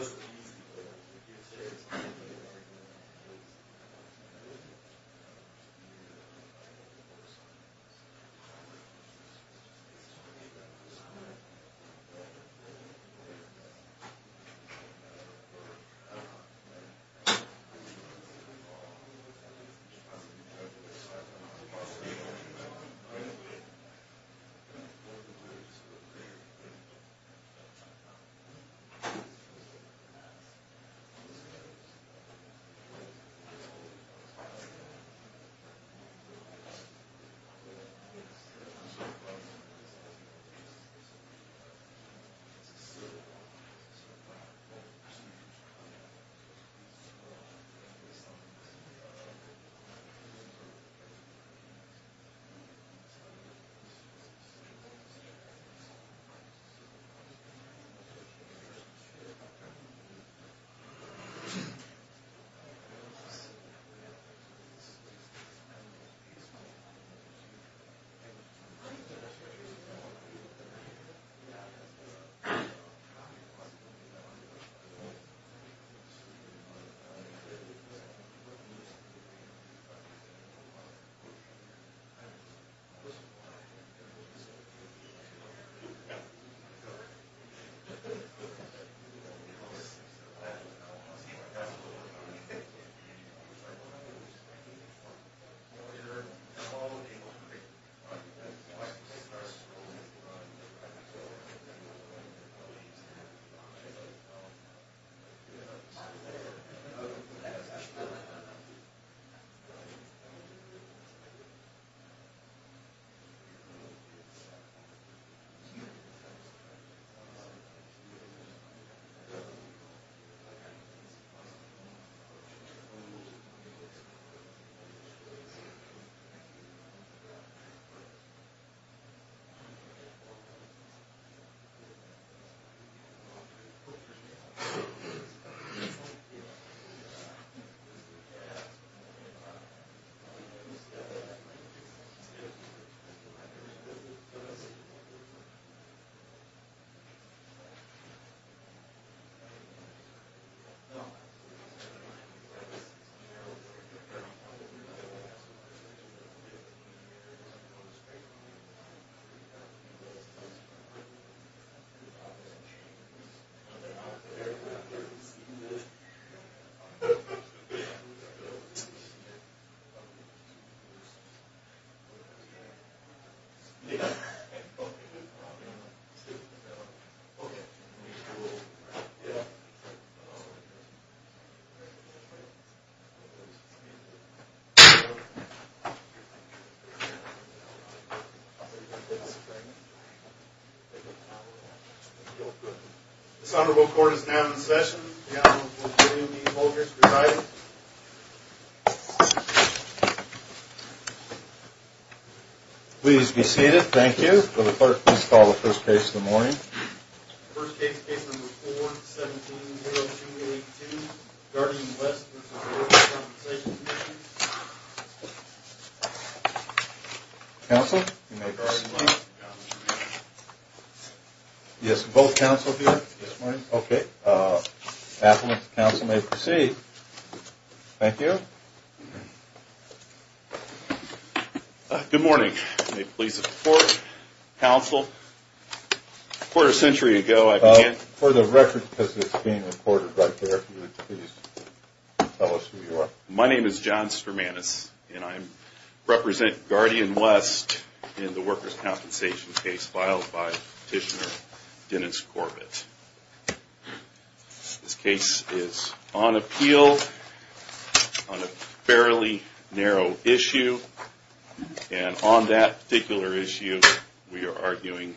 please be seated thank you for the clerk please call the first case of the Thank you. Good morning. Please support counsel for a century ago I can't for the record because it's being recorded right there. My name is John Sturmanis and I represent Guardian West in the workers compensation case filed by petitioner Dennis Corbett. This case is on appeal on a fairly narrow issue and on that particular issue we are arguing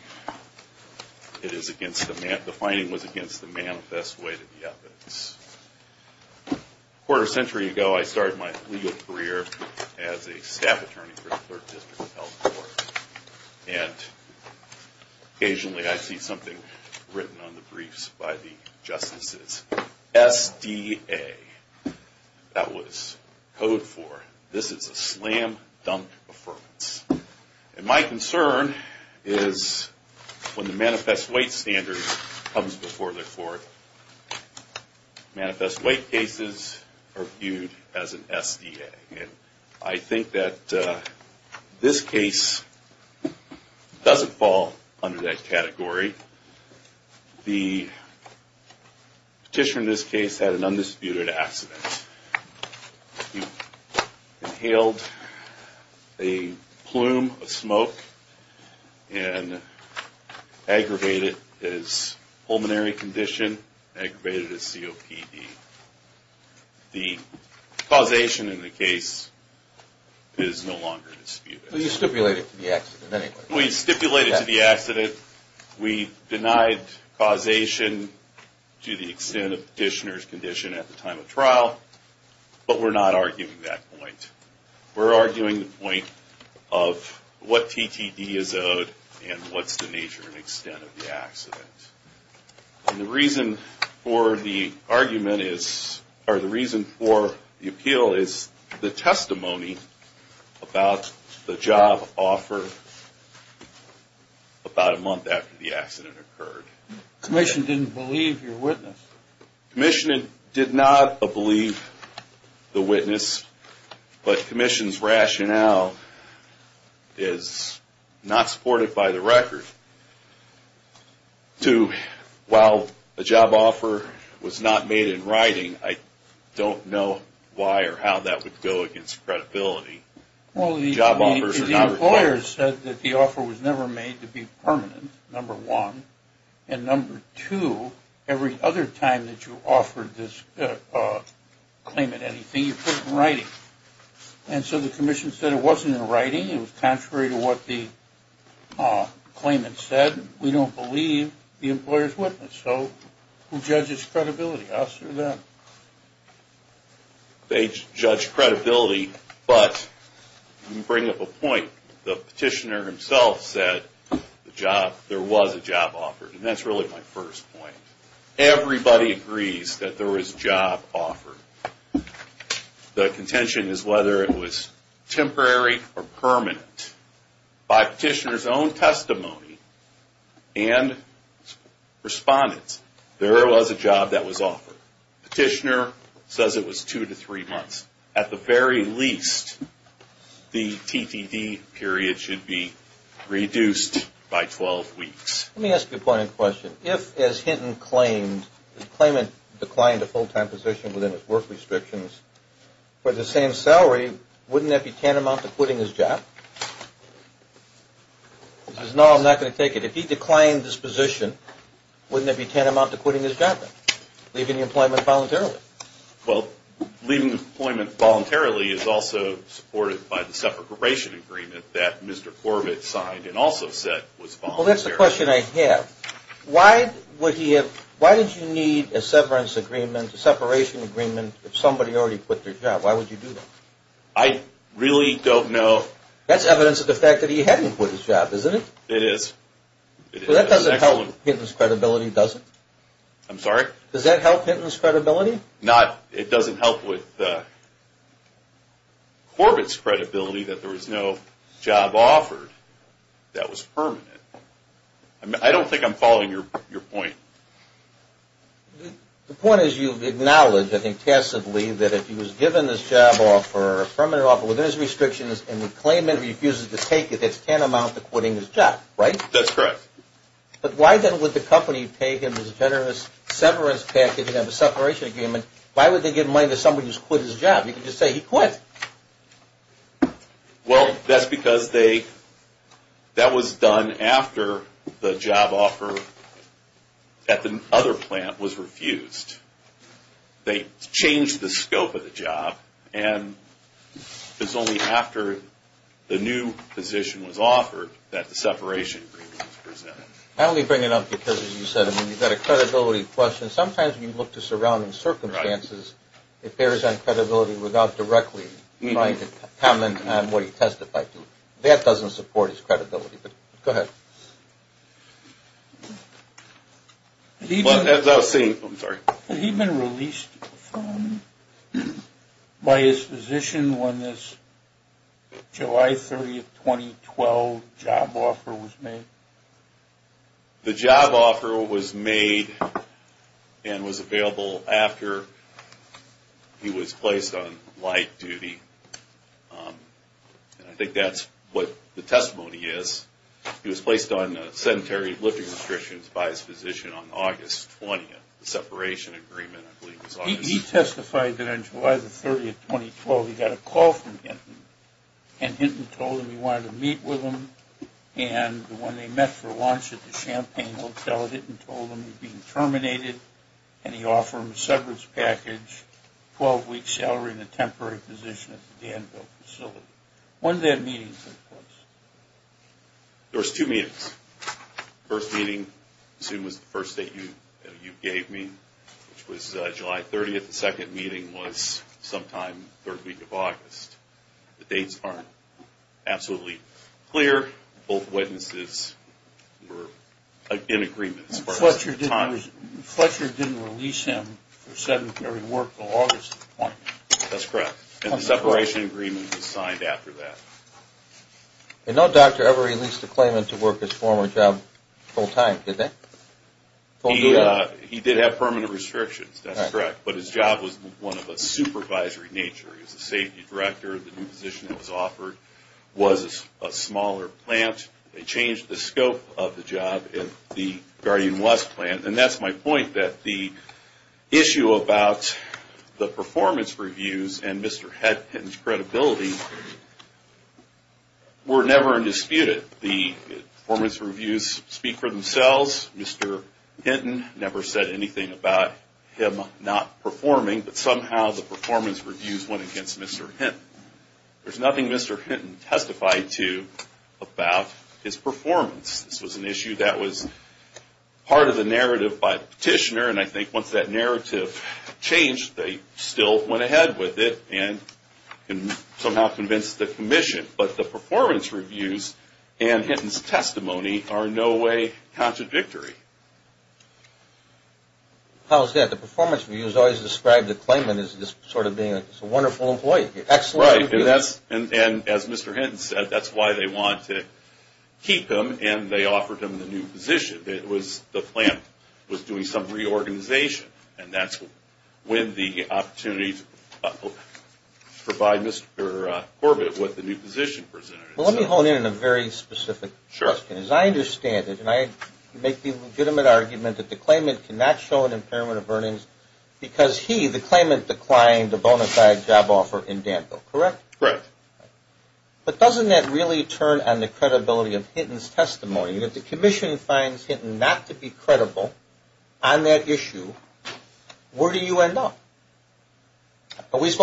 it is against the, the finding was against the manifest way to the evidence. A quarter century ago I started my legal career as a staff attorney for the clerk district health court and occasionally I see something written on the briefs by the justices SDA that was code for this is a slam dunk And my concern is when the manifest weight standard comes before the court manifest weight cases are viewed as an SDA and I think that this case doesn't fall under that category the petitioner in this case had an undisputed accident. He inhaled a plume of smoke and aggravated his pulmonary condition, aggravated his COPD. The causation in the case is no longer disputed. We stipulated to the accident. We denied causation to the extent of the petitioner's condition at the time of trial but we're not arguing that point. We're arguing the point of what TTD is owed and what's the nature and extent of the accident. And the reason for the argument is, or the reason for the appeal is the testimony about the job offer about a month after the accident occurred. Commission didn't believe your witness. Commission did not believe the witness but commission's rationale is not supported by the record to while a job offer was not made in writing I don't know why or how that would go against credibility. Well the employer said that the offer was never made to be permanent, number one. And number two, every other time that you offered this claimant anything you put it in writing. And so the commission said it wasn't in writing, it was contrary to what the claimant said. We don't believe the employer's witness. So who judges credibility, us or them? They judge credibility but you bring up a point, the petitioner himself said there was a job offer and that's really my first point. Everybody agrees that there was a job offer. The contention is whether it was temporary or permanent. By petitioner's own testimony and respondents, there was a job that was offered. Petitioner says it was two to three months. At the very least, the TTD period should be reduced by 12 weeks. Let me ask you a point of question. If, as Hinton claimed, the claimant declined a full-time position within his work restrictions for the same salary, wouldn't that be tantamount to quitting his job? He says no, I'm not going to take it. If he declined his position, wouldn't that be tantamount to quitting his job then, leaving the employment voluntarily? Well, leaving the employment voluntarily is also supported by the separation agreement that Mr. Corbett signed and also said was voluntary. Well, that's the question I have. Why did you need a separation agreement if somebody already quit their job? Why would you do that? I really don't know. That's evidence of the fact that he hadn't quit his job, isn't it? It is. That doesn't help Hinton's credibility, does it? I'm sorry? Does that help Hinton's credibility? It doesn't help with Corbett's credibility that there was no job offered that was permanent. I don't think I'm following your point. The point is you've acknowledged, I think, passively, that if he was given this job offer, a permanent offer within his restrictions, and the claimant refuses to take it, that's tantamount to quitting his job, right? That's correct. But why then would the company pay him this generous severance package and have a separation agreement? Why would they give money to somebody who's quit his job? You can just say he quit. Well, that's because that was done after the job offer at the other plant was refused. They changed the scope of the job, and it's only after the new position was offered that the separation agreement was presented. I only bring it up because, as you said, we've got a credibility question. Sometimes when you look to surrounding circumstances, it bears on credibility without directly commenting on what he testified to. That doesn't support his credibility, but go ahead. Had he been released by his physician when this July 30, 2012, job offer was made? He testified that on July 30, 2012, he got a call from Hinton, and Hinton told him he wanted to meet with him. And when they met for lunch at the Champagne Hotel, Hinton told him he was being terminated, and he offered him a severance package, 12-week salary, and a temporary position at the Danville facility. When did that meeting take place? There was two meetings. The first meeting, I assume, was the first date you gave me, which was July 30. The second meeting was sometime the third week of August. The dates aren't absolutely clear. Both witnesses were in agreement as far as the time. Fletcher didn't release him for sedentary work until August? That's correct. And the separation agreement was signed after that. And no doctor ever released a claimant to work his former job full-time, did they? He did have permanent restrictions, that's correct, but his job was one of a supervisory nature. He was a safety director. The new position that was offered was a smaller plant. They changed the scope of the job at the Guardian West plant. And that's my point, that the issue about the performance reviews and Mr. Hinton's credibility were never disputed. The performance reviews speak for themselves. Mr. Hinton never said anything about him not performing, but somehow the performance reviews went against Mr. Hinton. There's nothing Mr. Hinton testified to about his performance. This was an issue that was part of the narrative by the petitioner, and I think once that narrative changed, they still went ahead with it and somehow convinced the commission. But the performance reviews and Hinton's testimony are in no way contradictory. How is that? The performance reviews always describe the claimant as just sort of being a wonderful employee. Right, and as Mr. Hinton said, that's why they wanted to keep him, and they offered him the new position. The plant was doing some reorganization, and that's when the opportunity to provide Mr. Corbett with the new position presented itself. Well, let me hone in on a very specific question. As I understand it, and I make the legitimate argument that the claimant cannot show an impairment of earnings because he, the claimant, declined a bona fide job offer in Danville, correct? Correct. But doesn't that really turn on the credibility of Hinton's testimony? If the commission finds Hinton not to be credible on that issue, where do you end up? I think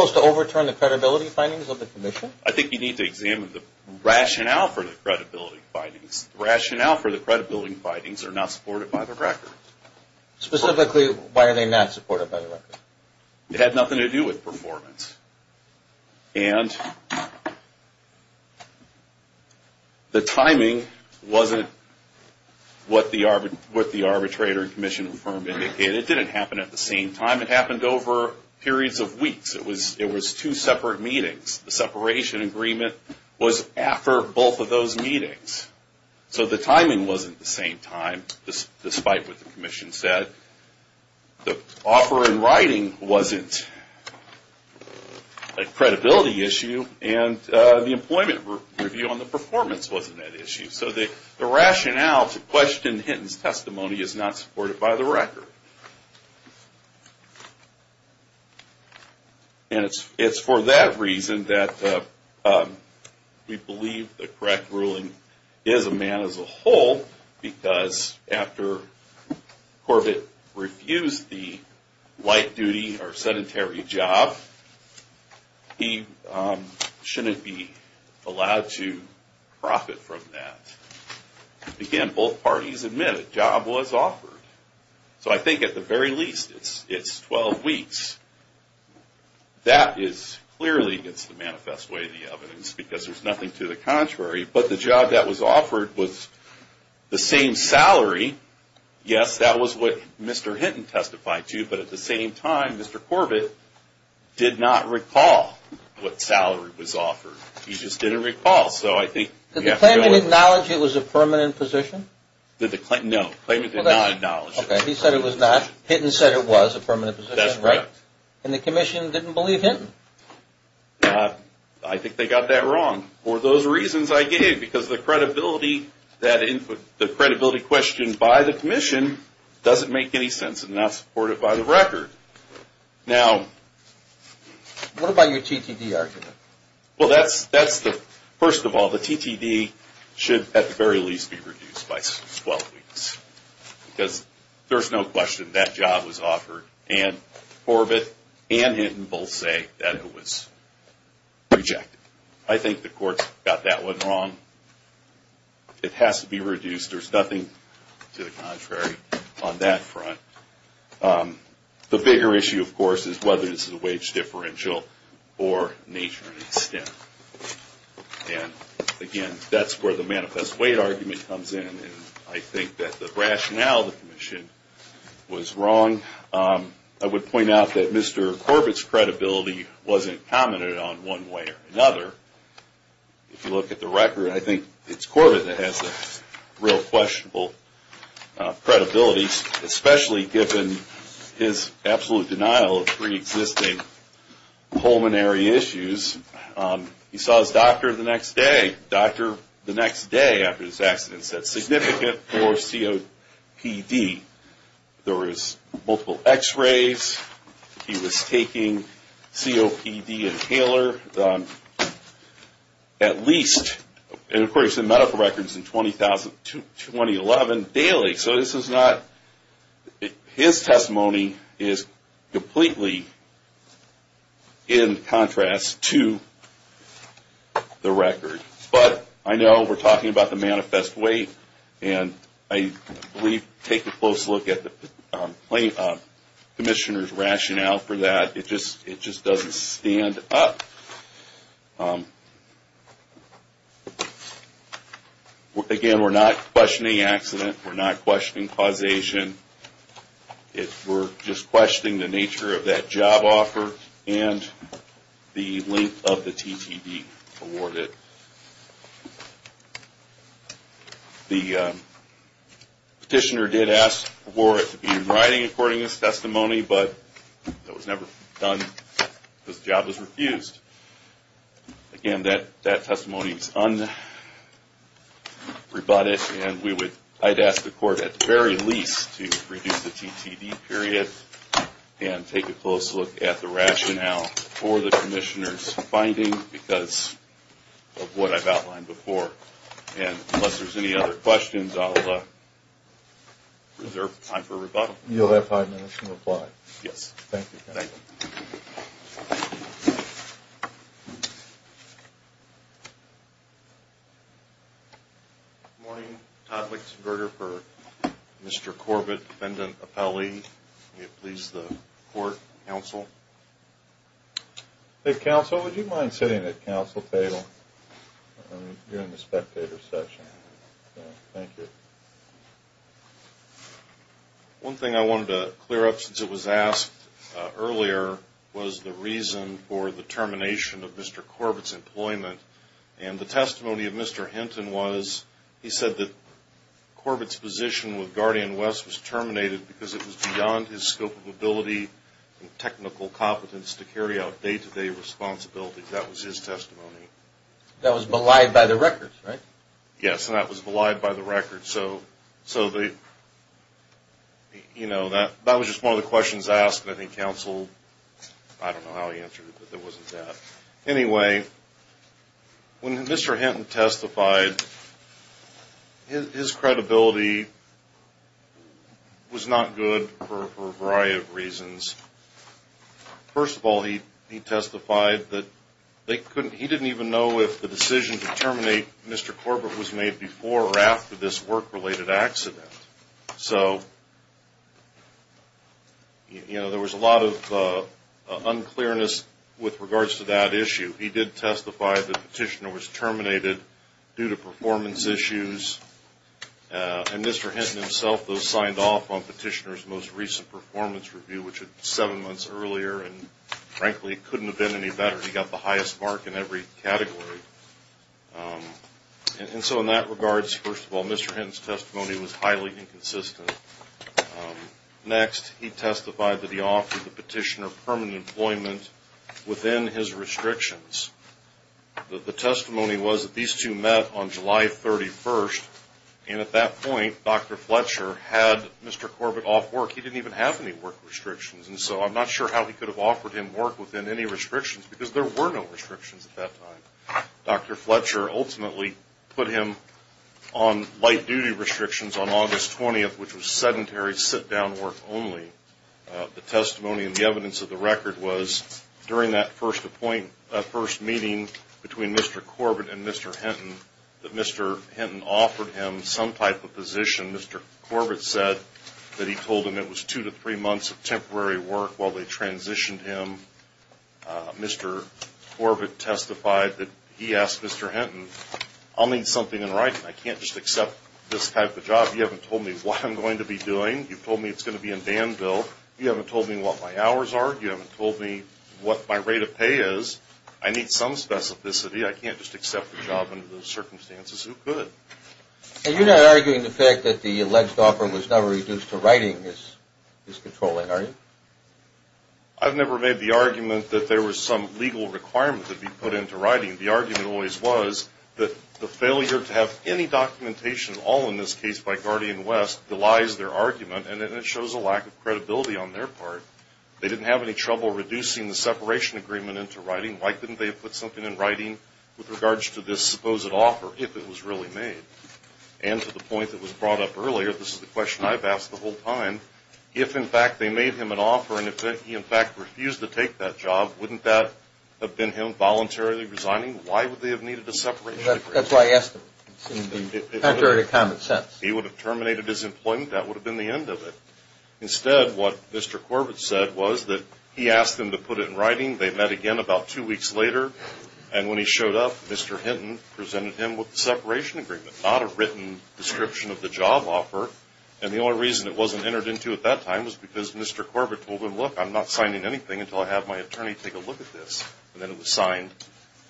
you need to examine the rationale for the credibility findings. The rationale for the credibility findings are not supported by the record. Specifically, why are they not supported by the record? It had nothing to do with performance. And the timing wasn't what the arbitrator and commission firm indicated. It didn't happen at the same time. It happened over periods of weeks. It was two separate meetings. The separation agreement was after both of those meetings. So the timing wasn't the same time, despite what the commission said. The offer in writing wasn't a credibility issue, and the employment review on the performance wasn't that issue. So the rationale to question Hinton's testimony is not supported by the record. And it's for that reason that we believe the correct ruling is a man as a whole, because after Corbett refused the light duty or sedentary job, he shouldn't be allowed to profit from that. Again, both parties admit a job was offered. So I think at the very least, it's 12 weeks. That is clearly against the manifest way of the evidence, because there's nothing to the contrary. But the job that was offered was the same salary. Yes, that was what Mr. Hinton testified to, but at the same time, Mr. Corbett did not recall what salary was offered. He just didn't recall. Did the claimant acknowledge it was a permanent position? No, the claimant did not acknowledge it. Okay, he said it was not. Hinton said it was a permanent position. That's right. And the commission didn't believe Hinton. I think they got that wrong. For those reasons I gave, because the credibility question by the commission doesn't make any sense and not supported by the record. Now... What about your TTD argument? Well, first of all, the TTD should at the very least be reduced by 12 weeks, because there's no question that job was offered. And Corbett and Hinton both say that it was rejected. I think the courts got that one wrong. It has to be reduced. There's nothing to the contrary on that front. The bigger issue, of course, is whether this is a wage differential or nature and extent. And, again, that's where the manifest wage argument comes in. I think that the rationale of the commission was wrong. I would point out that Mr. Corbett's credibility wasn't commented on one way or another. If you look at the record, I think it's Corbett that has the real questionable credibility, especially given his absolute denial of preexisting pulmonary issues. He saw his doctor the next day. The doctor the next day after his accident said, significant for COPD. There was multiple x-rays. He was taking COPD inhaler at least. And, of course, the medical record is in 2011 daily. So his testimony is completely in contrast to the record. But I know we're talking about the manifest wage. And we take a close look at the commissioner's rationale for that. It just doesn't stand up. Again, we're not questioning accident. We're not questioning causation. We're just questioning the nature of that job offer and the length of the TTD awarded. The petitioner did ask for it to be in writing according to his testimony. But that was never done. His job was refused. Again, that testimony is unrebutted. And I'd ask the court at the very least to reduce the TTD period and take a close look at the rationale for the commissioner's finding because of what I've outlined before. And unless there's any other questions, I'll reserve time for rebuttal. You'll have five minutes to reply. Yes. Thank you. Thank you. Good morning. Todd Lichtenberger for Mr. Corbett, defendant, appellee. May it please the court, counsel. Counsel, would you mind sitting at counsel table during the spectator session? Thank you. One thing I wanted to clear up since it was asked earlier was the reason for the termination of Mr. Corbett's employment. And the testimony of Mr. Hinton was he said that Corbett's position with Guardian West was terminated because it was beyond his scope of ability and technical competence to carry out day-to-day responsibilities. That was his testimony. That was belied by the records, right? Yes, and that was belied by the records. So, you know, that was just one of the questions asked. I think counsel, I don't know how he answered it, but there wasn't that. Anyway, when Mr. Hinton testified, his credibility was not good for a variety of reasons. First of all, he testified that he didn't even know if the decision to terminate Mr. Corbett was made before or after this work-related accident. So, you know, there was a lot of unclearness with regards to that issue. He did testify that Petitioner was terminated due to performance issues. And Mr. Hinton himself, though, signed off on Petitioner's most recent performance review, which was seven months earlier, and frankly, it couldn't have been any better. He got the highest mark in every category. And so in that regards, first of all, Mr. Hinton's testimony was highly inconsistent. Next, he testified that he offered the Petitioner permanent employment within his restrictions. The testimony was that these two met on July 31st, and at that point, Dr. Fletcher had Mr. Corbett off work. He didn't even have any work restrictions. And so I'm not sure how he could have offered him work within any restrictions because there were no restrictions at that time. Dr. Fletcher ultimately put him on light-duty restrictions on August 20th, which was sedentary sit-down work only. The testimony and the evidence of the record was during that first meeting between Mr. Corbett and Mr. Hinton that Mr. Hinton offered him some type of position. Mr. Corbett said that he told him it was two to three months of temporary work while they transitioned him. Mr. Corbett testified that he asked Mr. Hinton, I'll need something in writing. I can't just accept this type of job. You haven't told me what I'm going to be doing. You've told me it's going to be in Danville. You haven't told me what my hours are. You haven't told me what my rate of pay is. I need some specificity. I can't just accept the job under those circumstances. Who could? And you're not arguing the fact that the alleged offer was never reduced to writing is controlling, are you? I've never made the argument that there was some legal requirement to be put into writing. The argument always was that the failure to have any documentation, all in this case by Guardian West, belies their argument, and it shows a lack of credibility on their part. They didn't have any trouble reducing the separation agreement into writing. Why couldn't they have put something in writing with regards to this supposed offer if it was really made? And to the point that was brought up earlier, this is the question I've asked the whole time, if, in fact, they made him an offer and he, in fact, refused to take that job, wouldn't that have been him voluntarily resigning? Why would they have needed a separation agreement? That's why I asked him. Contrary to common sense. If he would have terminated his employment, that would have been the end of it. Instead, what Mr. Corbett said was that he asked them to put it in writing. They met again about two weeks later. And when he showed up, Mr. Hinton presented him with the separation agreement, not a written description of the job offer. And the only reason it wasn't entered into at that time was because Mr. Corbett told him, look, I'm not signing anything until I have my attorney take a look at this. And then it was signed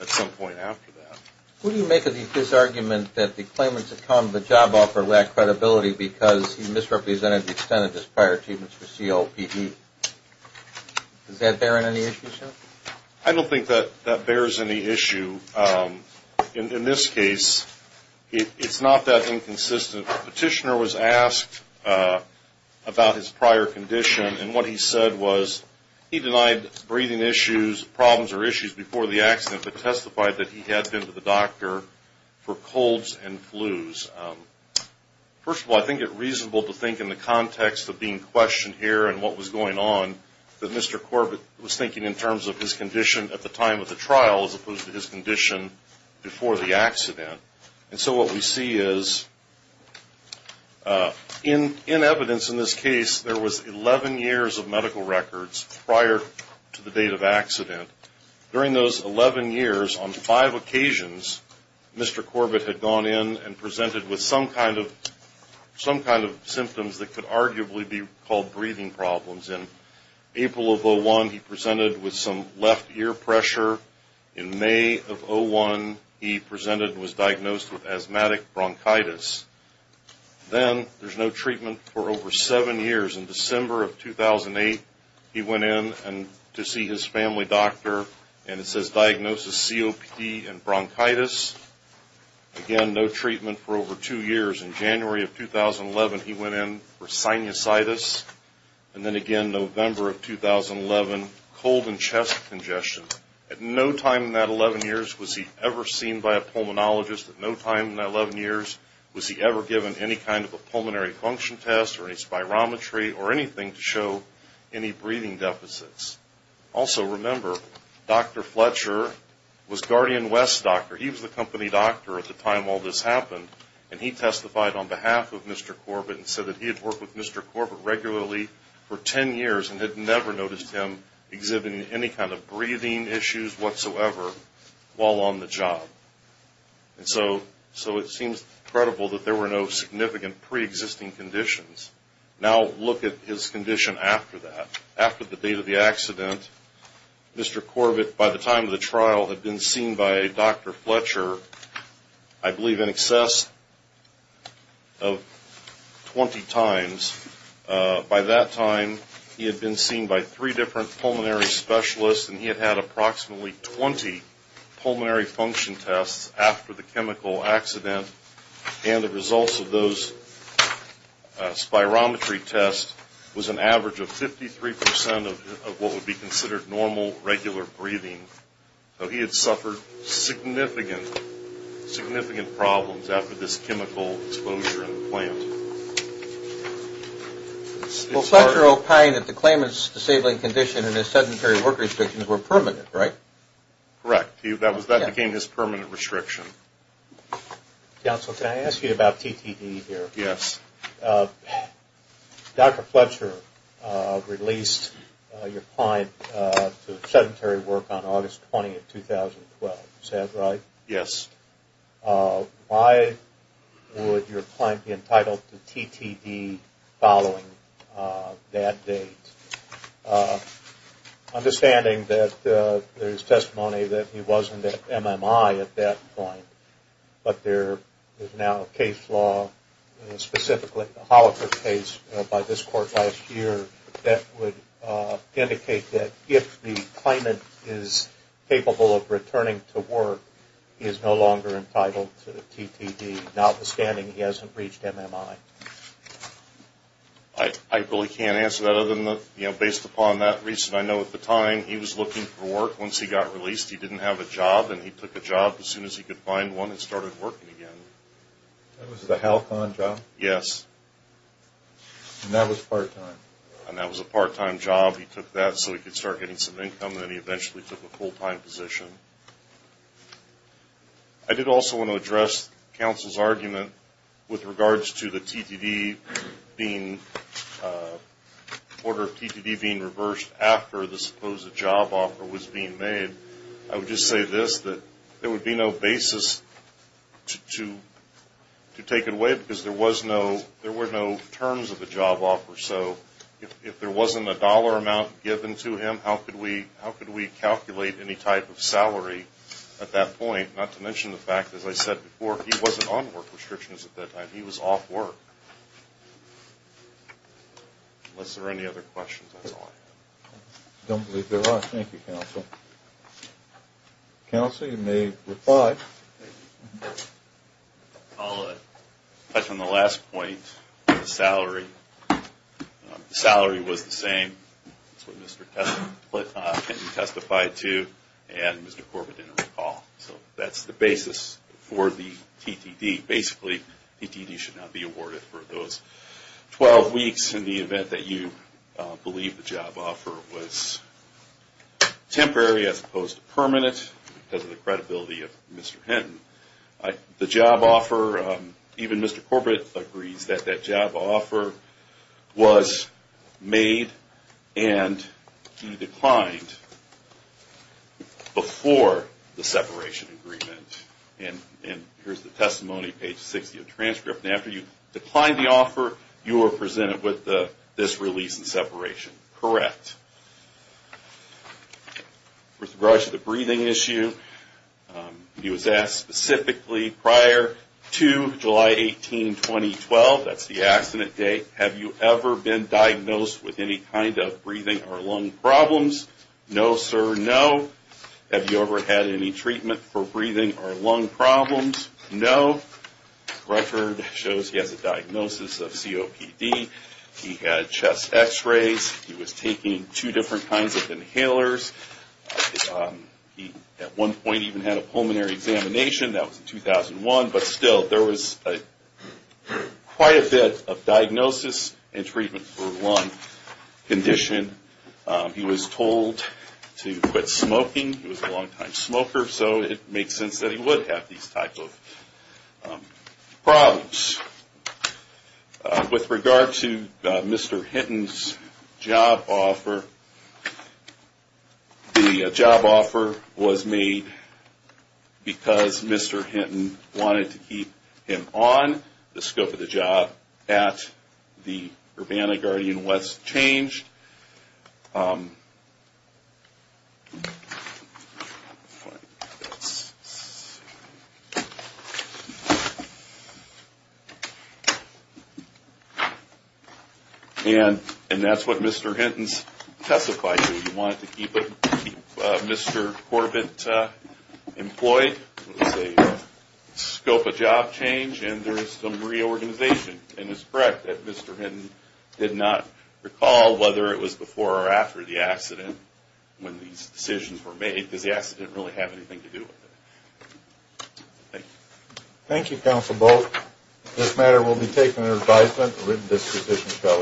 at some point after that. Who do you make of his argument that the claimant's account of the job offer lacked credibility because he misrepresented the extent of his prior achievements for COPE? Does that bear on any issue, Chuck? I don't think that that bears any issue. In this case, it's not that inconsistent. The petitioner was asked about his prior condition, and what he said was he denied breathing issues, problems or issues before the accident, but testified that he had been to the doctor for colds and flus. First of all, I think it's reasonable to think in the context of being questioned here and what was going on that Mr. Corbett was thinking in terms of his condition at the time of the trial as opposed to his condition before the accident. And so what we see is, in evidence in this case, there was 11 years of medical records prior to the date of accident. During those 11 years, on five occasions, Mr. Corbett had gone in and presented with some kind of symptoms that could arguably be called breathing problems. In April of 2001, he presented with some left ear pressure. In May of 2001, he presented and was diagnosed with asthmatic bronchitis. Then there's no treatment for over seven years. In December of 2008, he went in to see his family doctor, and it says diagnosis COPE and bronchitis. Again, no treatment for over two years. In January of 2011, he went in for sinusitis. And then again, November of 2011, cold and chest congestion. At no time in that 11 years was he ever seen by a pulmonologist. At no time in that 11 years was he ever given any kind of a pulmonary function test or any spirometry or anything to show any breathing deficits. However, he was the company doctor at the time all this happened, and he testified on behalf of Mr. Corbett and said that he had worked with Mr. Corbett regularly for 10 years and had never noticed him exhibiting any kind of breathing issues whatsoever while on the job. And so it seems credible that there were no significant preexisting conditions. Now look at his condition after that. Mr. Corbett, by the time of the trial, had been seen by Dr. Fletcher I believe in excess of 20 times. By that time, he had been seen by three different pulmonary specialists, and he had had approximately 20 pulmonary function tests after the chemical accident. And the results of those spirometry tests was an average of 53% of what would be considered normal, regular breathing. So he had suffered significant, significant problems after this chemical exposure in the plant. Well, Fletcher opined that the claimant's disabling condition and his sedentary work restrictions were permanent, right? Correct. That became his permanent restriction. Counsel, can I ask you about TTD here? Yes. Dr. Fletcher released your client to sedentary work on August 20, 2012. Is that right? Yes. Why would your client be entitled to TTD following that date? Understanding that there is testimony that he wasn't at MMI at that point, but there is now a case law, specifically the Holliker case by this court last year, that would indicate that if the claimant is capable of returning to work, he is no longer entitled to TTD, notwithstanding he hasn't reached MMI. I really can't answer that other than, you know, based upon that reason, I know at the time he was looking for work. Once he got released, he didn't have a job, and he took a job as soon as he could find one and started working again. That was the Halcon job? Yes. And that was part-time? And that was a part-time job. He took that so he could start getting some income, and then he eventually took a full-time position. I did also want to address counsel's argument with regards to the order of TTD being reversed after the supposed job offer was being made. I would just say this, that there would be no basis to take it away because there were no terms of the job offer. So if there wasn't a dollar amount given to him, how could we calculate any type of salary at that point, not to mention the fact, as I said before, he wasn't on work restrictions at that time. He was off work. Unless there are any other questions, that's all I have. I don't believe there are. Thank you, counsel. Counsel, you may reply. I'll touch on the last point with the salary. The salary was the same. That's what Mr. Kessler testified to, and Mr. Corbett didn't recall. So that's the basis for the TTD. Basically, TTD should not be awarded for those 12 weeks in the event that you believe the job offer was temporary as opposed to permanent because of the credibility of Mr. Hinton. The job offer, even Mr. Corbett agrees that that job offer was made and you declined before the separation agreement. And here's the testimony, page 60 of the transcript. After you declined the offer, you were presented with this release and separation. Correct. With regards to the breathing issue, he was asked specifically prior to July 18, 2012, that's the accident date, have you ever been diagnosed with any kind of breathing or lung problems? No, sir, no. Have you ever had any treatment for breathing or lung problems? No. The record shows he has a diagnosis of COPD. He had chest x-rays. He was taking two different kinds of inhalers. He at one point even had a pulmonary examination. That was in 2001, but still there was quite a bit of diagnosis and treatment for lung condition. He was told to quit smoking. He was a long-time smoker, so it makes sense that he would have these types of problems. With regard to Mr. Hinton's job offer, the job offer was made because Mr. Hinton wanted to keep him on the scope of the job at the Urbana-Guardian West Change. And that's what Mr. Hinton testified to. He wanted to keep Mr. Corbett employed. It was a scope of job change, and there is some reorganization. And it's correct that Mr. Hinton did not recall whether it was before or after the accident when these decisions were made because the accident didn't really have anything to do with it. Thank you. Thank you, Counsel Bolt. This matter will be taken under advisement. The written disposition shall...